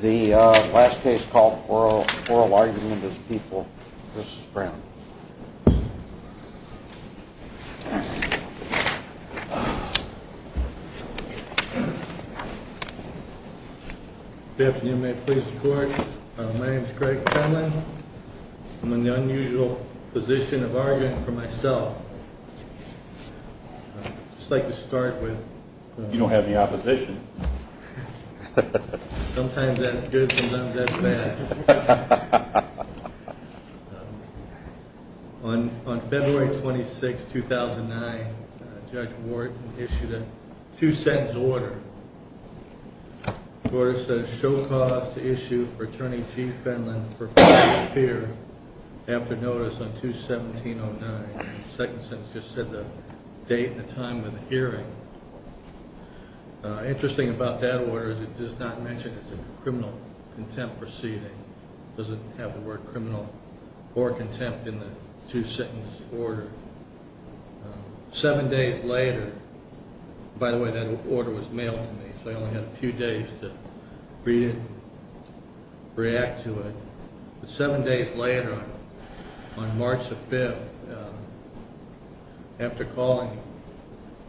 The last case is called Oral Argument as People. This is Brown. Good afternoon. May it please the Court. My name is Craig Conlin. I'm in the unusual position of arguing for myself. I'd just like to start with… You don't have any opposition. Sometimes that's good, sometimes that's bad. On February 26, 2009, Judge Wharton issued a two-sentence order. The order says, Show cause to issue for Attorney Chief Finland for failure to appear after notice on 2-17-09. The second sentence just said the date and time of the hearing. Interesting about that order is it does not mention it's a criminal contempt proceeding. It doesn't have the word criminal or contempt in the two-sentence order. Seven days later… By the way, that order was mailed to me, so I only had a few days to read it, react to it. Seven days later, on March 5, after calling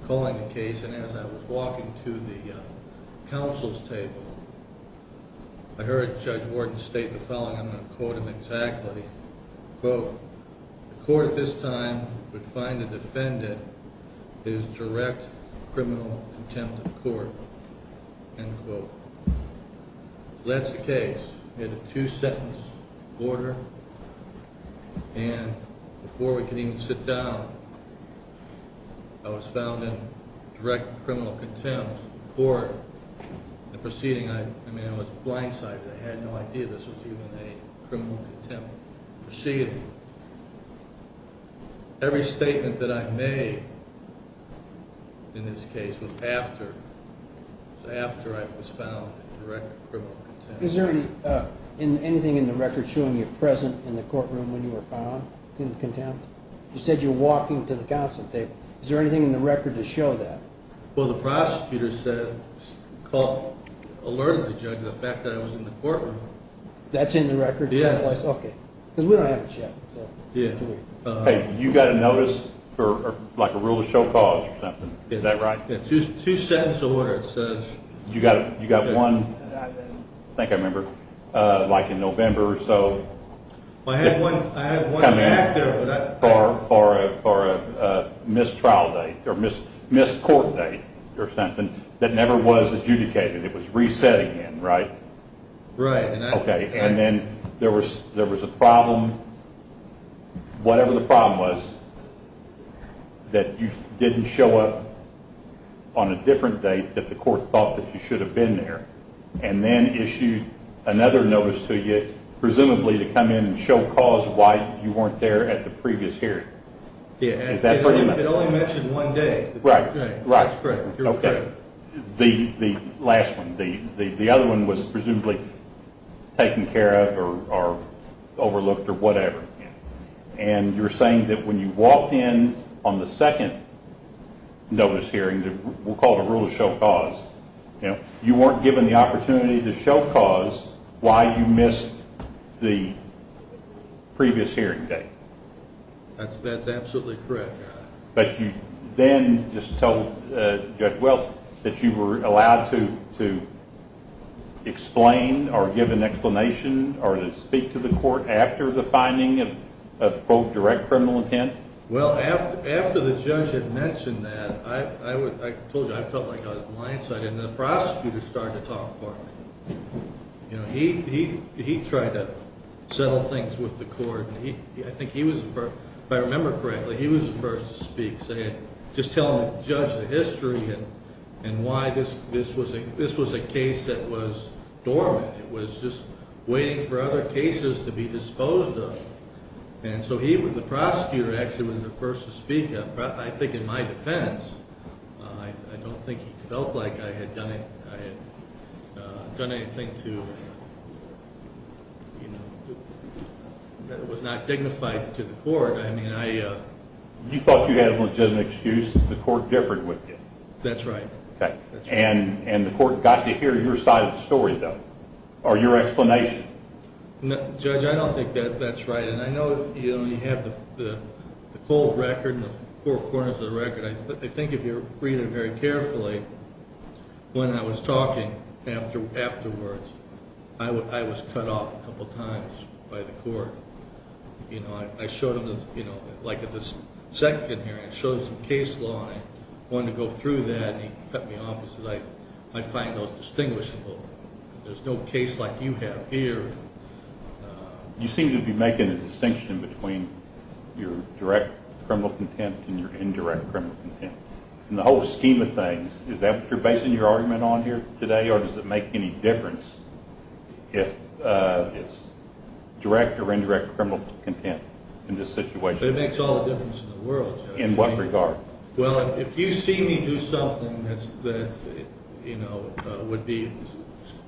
the case and as I was walking to the counsel's table, I heard Judge Wharton state the following, and I'm going to quote him exactly. Quote, the court at this time would find the defendant is direct criminal contempt of the court. End quote. So that's the case. We had a two-sentence order, and before we could even sit down, the proceeding, I mean, I was blindsided. I had no idea this was even a criminal contempt proceeding. Every statement that I made in this case was after I was found in direct criminal contempt. Is there anything in the record showing you were present in the courtroom when you were found in contempt? You said you were walking to the counsel's table. Is there anything in the record to show that? Well, the prosecutor said, alerted the judge of the fact that I was in the courtroom. That's in the record someplace? Yeah. Okay. Because we don't have it yet. Hey, you got a notice for like a rule of show cause or something. Is that right? Yeah, two-sentence order. You got one, I think I remember, like in November or so. I had one back there. For a missed trial date or missed court date or something that never was adjudicated. It was reset again, right? Right. Okay. And then there was a problem, whatever the problem was, that you didn't show up on a different date that the court thought that you should have been there, and then issued another notice to you, presumably to come in and show cause why you weren't there at the previous hearing. Yeah. Is that correct? It only mentioned one day. Right. That's correct. Okay. The last one. The other one was presumably taken care of or overlooked or whatever. And you're saying that when you walked in on the second notice hearing, we'll call it a rule of show cause, you weren't given the opportunity to show cause why you missed the previous hearing date. That's absolutely correct. But you then just told Judge Welch that you were allowed to explain or give an explanation or to speak to the court after the finding of both direct criminal intent? Well, after the judge had mentioned that, I told you I felt like I was blindsided, and the prosecutor started to talk for me. You know, he tried to settle things with the court. I think he was the first, if I remember correctly, he was the first to speak, saying just tell the judge the history and why this was a case that was dormant. It was just waiting for other cases to be disposed of. And so he, the prosecutor, actually was the first to speak. I think in my defense, I don't think he felt like I had done anything that was not dignified to the court. You thought you had a legitimate excuse because the court differed with you. That's right. And the court got to hear your side of the story, though, or your explanation. Judge, I don't think that's right. And I know you have the cold record and the four corners of the record. I think if you read it very carefully, when I was talking afterwards, I was cut off a couple times by the court. You know, I showed him, like at the second hearing, I showed him some case law, and I wanted to go through that, and he cut me off and said I find those distinguishable. There's no case like you have here. You seem to be making a distinction between your direct criminal content and your indirect criminal content. In the whole scheme of things, is that what you're basing your argument on here today, or does it make any difference if it's direct or indirect criminal content in this situation? It makes all the difference in the world. In what regard? Well, if you see me do something that's, you know, would be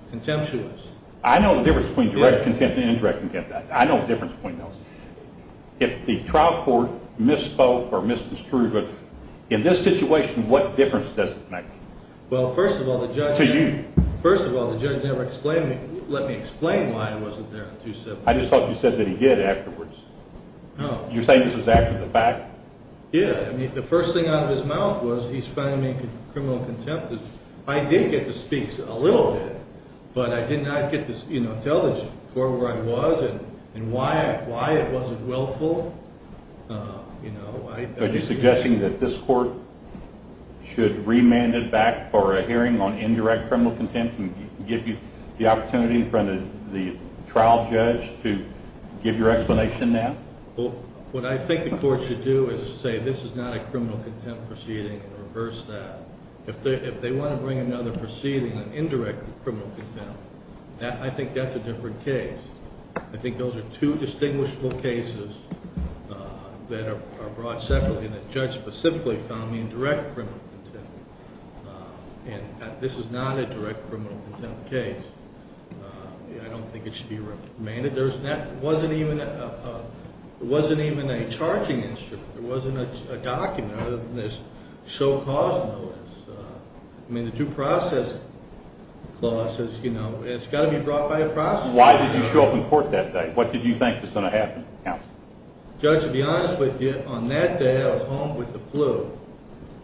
contemptuous. I know the difference between direct content and indirect content. I know the difference between those. If the trial court misspoke or misconstrued it, in this situation, what difference does it make? Well, first of all, the judge never explained it. Let me explain why it wasn't there. I just thought you said that he did afterwards. No. You're saying this was after the fact? Yeah. I mean, the first thing out of his mouth was he's finding me in criminal contempt. I did get to speak a little bit, but I did not get to, you know, tell the court where I was and why it wasn't willful. Are you suggesting that this court should remand it back for a hearing on indirect criminal contempt and give you the opportunity in front of the trial judge to give your explanation now? Well, what I think the court should do is say this is not a criminal contempt proceeding and reverse that. If they want to bring another proceeding on indirect criminal contempt, I think that's a different case. I think those are two distinguishable cases that are brought separately, and the judge specifically found me in direct criminal contempt. And this is not a direct criminal contempt case. I don't think it should be remanded. It wasn't even a charging instrument. It wasn't a document other than this show cause notice. I mean, the due process clause says, you know, it's got to be brought by a prosecutor. Why did you show up in court that day? What did you think was going to happen? Judge, to be honest with you, on that day I was home with the flu.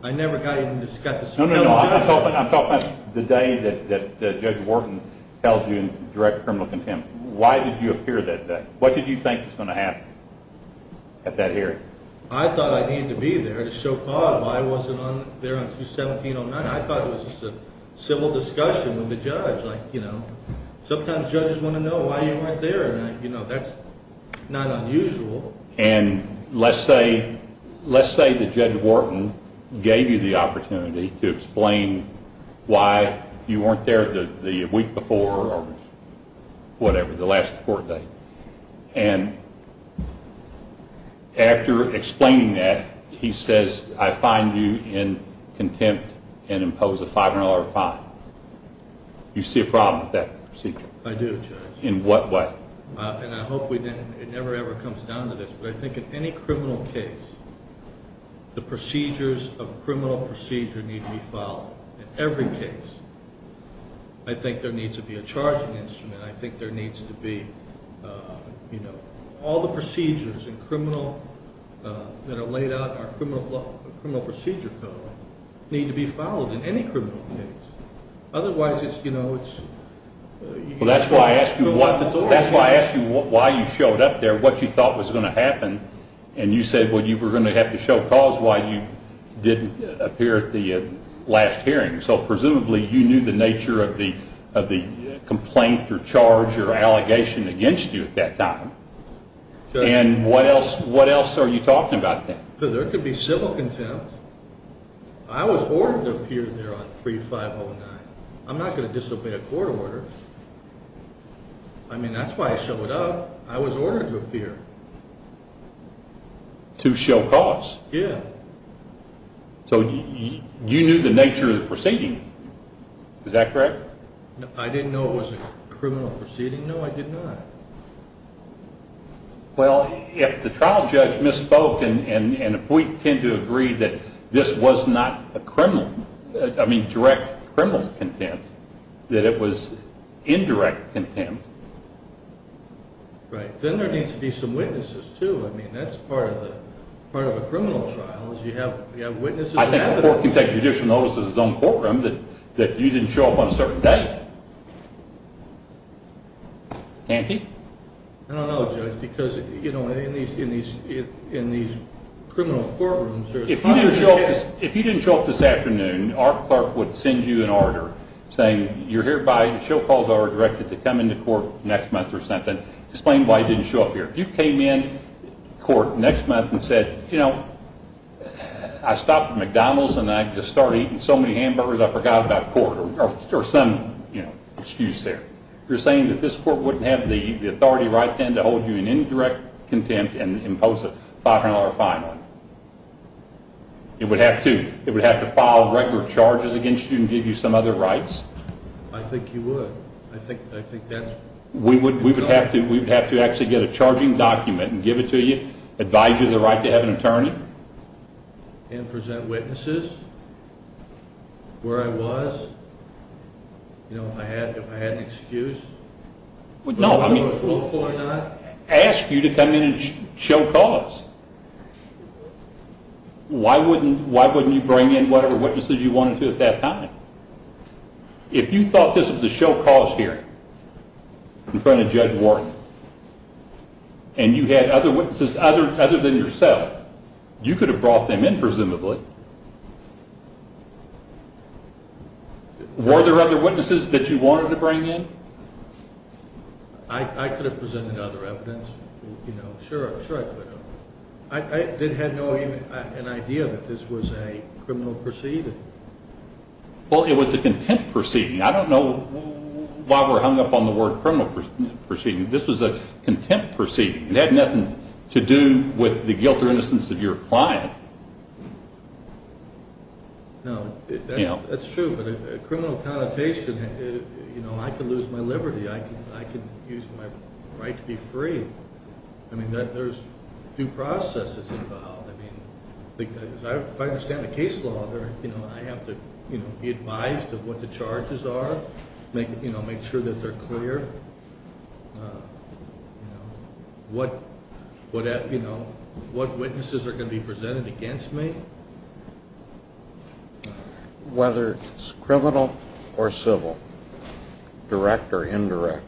I never got to even discuss it. No, no, no, I'm talking about the day that Judge Wharton held you in direct criminal contempt. Why did you appear that day? What did you think was going to happen at that hearing? I thought I needed to be there to show cause. I wasn't there until 1709. I thought it was just a civil discussion with the judge. Like, you know, sometimes judges want to know why you weren't there, and, you know, that's not unusual. And let's say that Judge Wharton gave you the opportunity to explain why you weren't there the week before or whatever, the last court date. And after explaining that, he says, I find you in contempt and impose a $500 fine. You see a problem with that procedure? I do, Judge. In what way? And I hope it never, ever comes down to this, but I think in any criminal case, the procedures of criminal procedure need to be followed in every case. I think there needs to be a charging instrument. I think there needs to be, you know, all the procedures that are laid out in our criminal procedure code need to be followed in any criminal case. Otherwise, it's, you know, it's... Well, that's why I asked you why you showed up there, what you thought was going to happen. And you said, well, you were going to have to show cause why you didn't appear at the last hearing. So presumably you knew the nature of the complaint or charge or allegation against you at that time. And what else are you talking about then? There could be civil contempt. I was ordered to appear there on 3509. I'm not going to disobey a court order. I mean, that's why I showed up. I was ordered to appear. To show cause. Yeah. So you knew the nature of the proceeding. Is that correct? I didn't know it was a criminal proceeding. No, I did not. Well, if the trial judge misspoke and if we tend to agree that this was not a criminal, I mean, direct criminal contempt, that it was indirect contempt. Right. Then there needs to be some witnesses, too. I mean, that's part of a criminal trial is you have witnesses. I think the court can take judicial notice of his own courtroom that you didn't show up on a certain date. Can't he? I don't know, Judge, because, you know, in these criminal courtrooms there's hundreds of cases. If you didn't show up this afternoon, our clerk would send you an order saying you're hereby, show cause order directed to come into court next month or something, explain why you didn't show up here. If you came in court next month and said, you know, I stopped at McDonald's and I just started eating so many hamburgers I forgot about court or some excuse there, you're saying that this court wouldn't have the authority right then to hold you in indirect contempt and impose a $500 fine on you. It would have to. It would have to file record charges against you and give you some other rights. I think you would. We would have to actually get a charging document and give it to you, advise you of the right to have an attorney. And present witnesses where I was, you know, if I had an excuse. No, I mean, ask you to come in and show cause. Why wouldn't you bring in whatever witnesses you wanted to at that time? If you thought this was a show cause hearing in front of Judge Wharton and you had other witnesses other than yourself, you could have brought them in presumably. Were there other witnesses that you wanted to bring in? I could have presented other evidence. Sure, sure I could have. I didn't have an idea that this was a criminal proceeding. Well, it was a contempt proceeding. I don't know why we're hung up on the word criminal proceeding. This was a contempt proceeding. It had nothing to do with the guilt or innocence of your client. No, that's true. But a criminal connotation, you know, I could lose my liberty. I could use my right to be free. I mean, there's due processes involved. If I understand the case law, I have to be advised of what the charges are, make sure that they're clear, what witnesses are going to be presented against me. Whether it's criminal or civil, direct or indirect,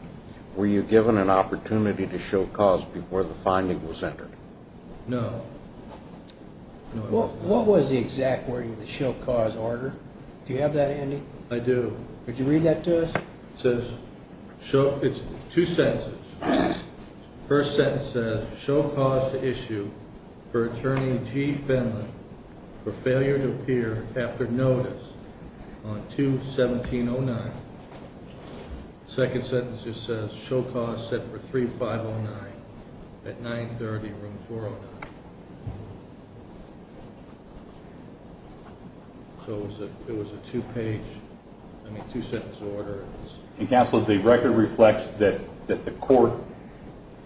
were you given an opportunity to show cause before the finding was entered? No. What was the exact wording of the show cause order? Do you have that, Andy? I do. Could you read that to us? It says, two sentences. First sentence says, show cause to issue for attorney G. Finley for failure to appear after notice on 2-1709. Second sentence just says, show cause set for 3-509 at 930, room 409. So it was a two-page, I mean, two-sentence order. Counsel, the record reflects that the court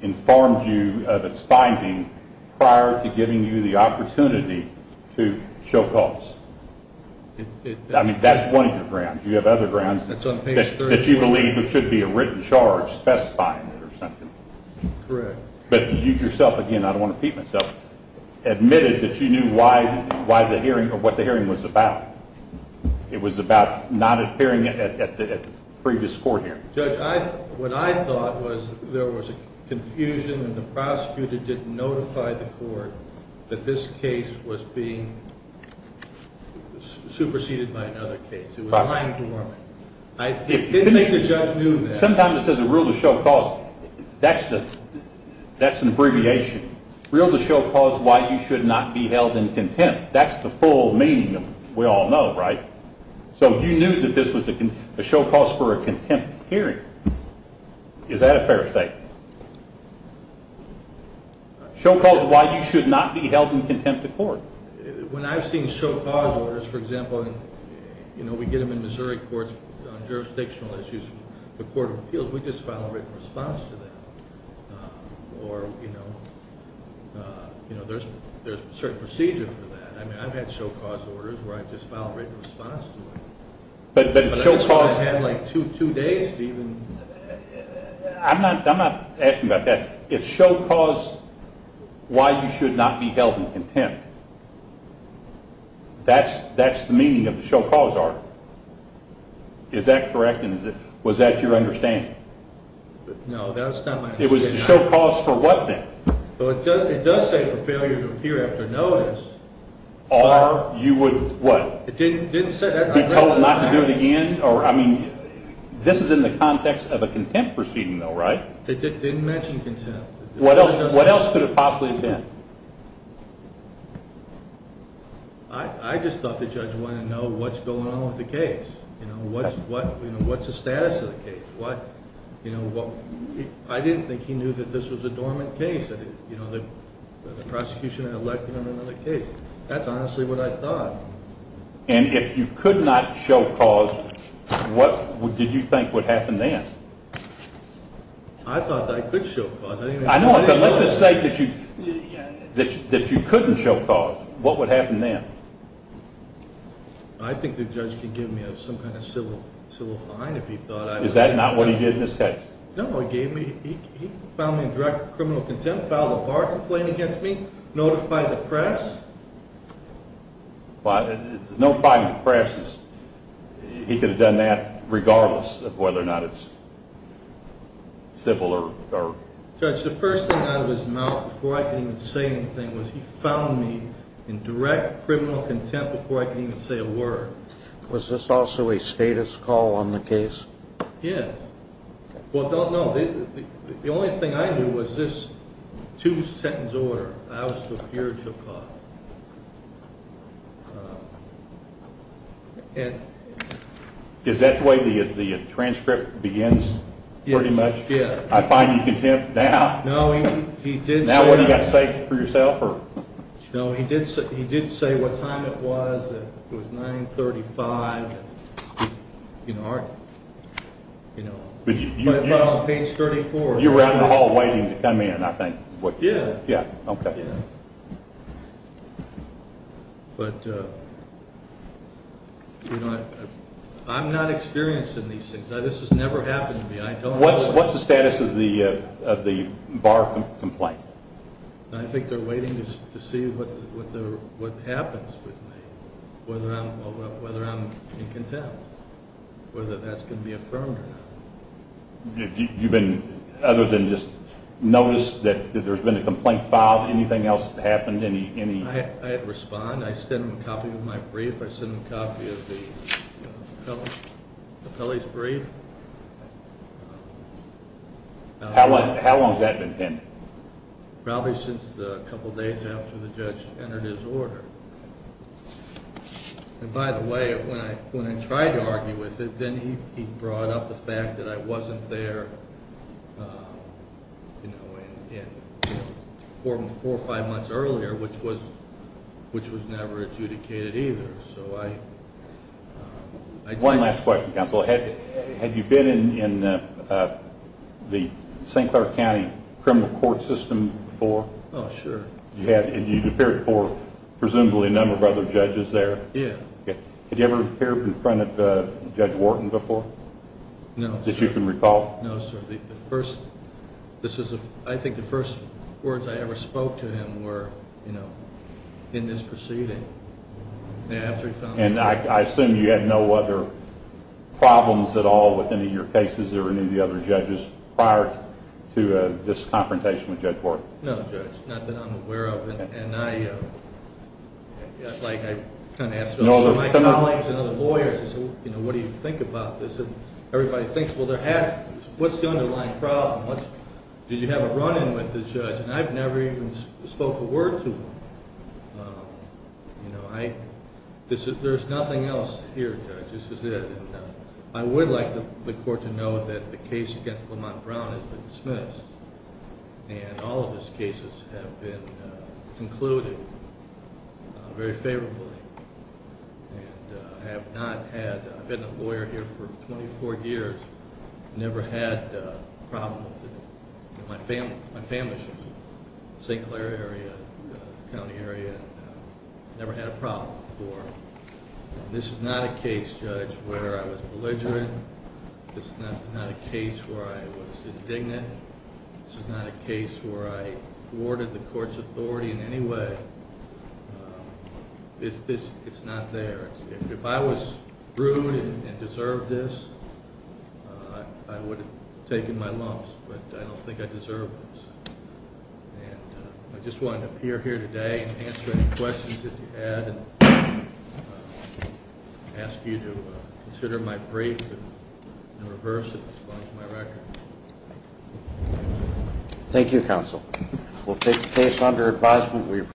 informed you of its finding prior to giving you the opportunity to show cause. I mean, that's one of your grounds. You have other grounds that you believe there should be a written charge specifying it or something. Correct. But you yourself, again, I don't want to beat myself, admitted that you knew what the hearing was about. It was about not appearing at the previous court hearing. Judge, what I thought was there was a confusion and the prosecutor didn't notify the court that this case was being superseded by another case. I didn't think the judge knew that. Sometimes it says a rule to show cause. That's an abbreviation. Rule to show cause why you should not be held in contempt. That's the full meaning, we all know, right? So you knew that this was a show cause for a contempt hearing. Is that a fair statement? Show cause why you should not be held in contempt of court. When I've seen show cause orders, for example, we get them in Missouri courts on jurisdictional issues, the court of appeals, we just file a written response to that. Or, you know, there's a certain procedure for that. I mean, I've had show cause orders where I've just filed a written response to it. But I've had like two days to even. I'm not asking about that. It's show cause why you should not be held in contempt. That's the meaning of the show cause order. Is that correct? Was that your understanding? No, that's not my understanding. It was the show cause for what then? It does say for failure to appear after notice. Or you would what? It didn't say that. Be told not to do it again? I mean, this is in the context of a contempt proceeding though, right? It didn't mention contempt. What else could it possibly have been? I just thought the judge wanted to know what's going on with the case. You know, what's the status of the case? You know, I didn't think he knew that this was a dormant case. You know, the prosecution had elected him under the case. That's honestly what I thought. And if you could not show cause, what did you think would happen then? I thought that I could show cause. I know, but let's just say that you couldn't show cause. What would happen then? I think the judge could give me some kind of civil fine if he thought I would. Is that not what he did in this case? No, he found me in direct criminal contempt, filed a bar complaint against me, notified the press. But there's no fine with the press. He could have done that regardless of whether or not it's civil or not. Judge, the first thing out of his mouth before I could even say anything was he found me in direct criminal contempt before I could even say a word. Was this also a status call on the case? Yes. Well, no. The only thing I knew was this two-sentence order. I was superior to a cop. Is that the way the transcript begins pretty much? Yes. I find you contempt now. No, he did say. Now what have you got to say for yourself? No, he did say what time it was. It was 935. But on page 34. You were out in the hall waiting to come in, I think. Yeah. Okay. But I'm not experienced in these things. This has never happened to me. What's the status of the bar complaint? I think they're waiting to see what happens with me, whether I'm in contempt, whether that's going to be affirmed or not. Have you been, other than just notice that there's been a complaint filed, anything else happened? I had to respond. I sent him a copy of my brief. How long has that been pending? Probably since a couple days after the judge entered his order. And, by the way, when I tried to argue with it, then he brought up the fact that I wasn't there, you know, four or five months earlier, which was never adjudicated either. One last question, counsel. Had you been in the St. Clair County criminal court system before? Oh, sure. You'd appeared before presumably a number of other judges there. Yeah. Had you ever appeared in front of Judge Wharton before that you can recall? No, sir. I think the first words I ever spoke to him were, you know, in this proceeding. And I assume you had no other problems at all with any of your cases that were new to the other judges prior to this confrontation with Judge Wharton? No, Judge, not that I'm aware of. And I kind of asked some of my colleagues and other lawyers, you know, what do you think about this? And everybody thinks, well, what's the underlying problem? Did you have a run-in with the judge? And I've never even spoke a word to him. You know, there's nothing else here, Judge, this is it. And I would like the court to know that the case against Lamont Brown has been dismissed and all of his cases have been concluded very favorably. And I have not had, I've been a lawyer here for 24 years, never had a problem with it. My family's from the St. Clair area, county area, never had a problem before. This is not a case, Judge, where I was belligerent. This is not a case where I was indignant. This is not a case where I thwarted the court's authority in any way. It's not there. If I was rude and deserved this, I would have taken my lumps. But I don't think I deserve this. And I just wanted to appear here today and answer any questions that you had and ask you to consider my brief and reverse it as far as my record. Thank you, counsel. We'll take the case under advisement.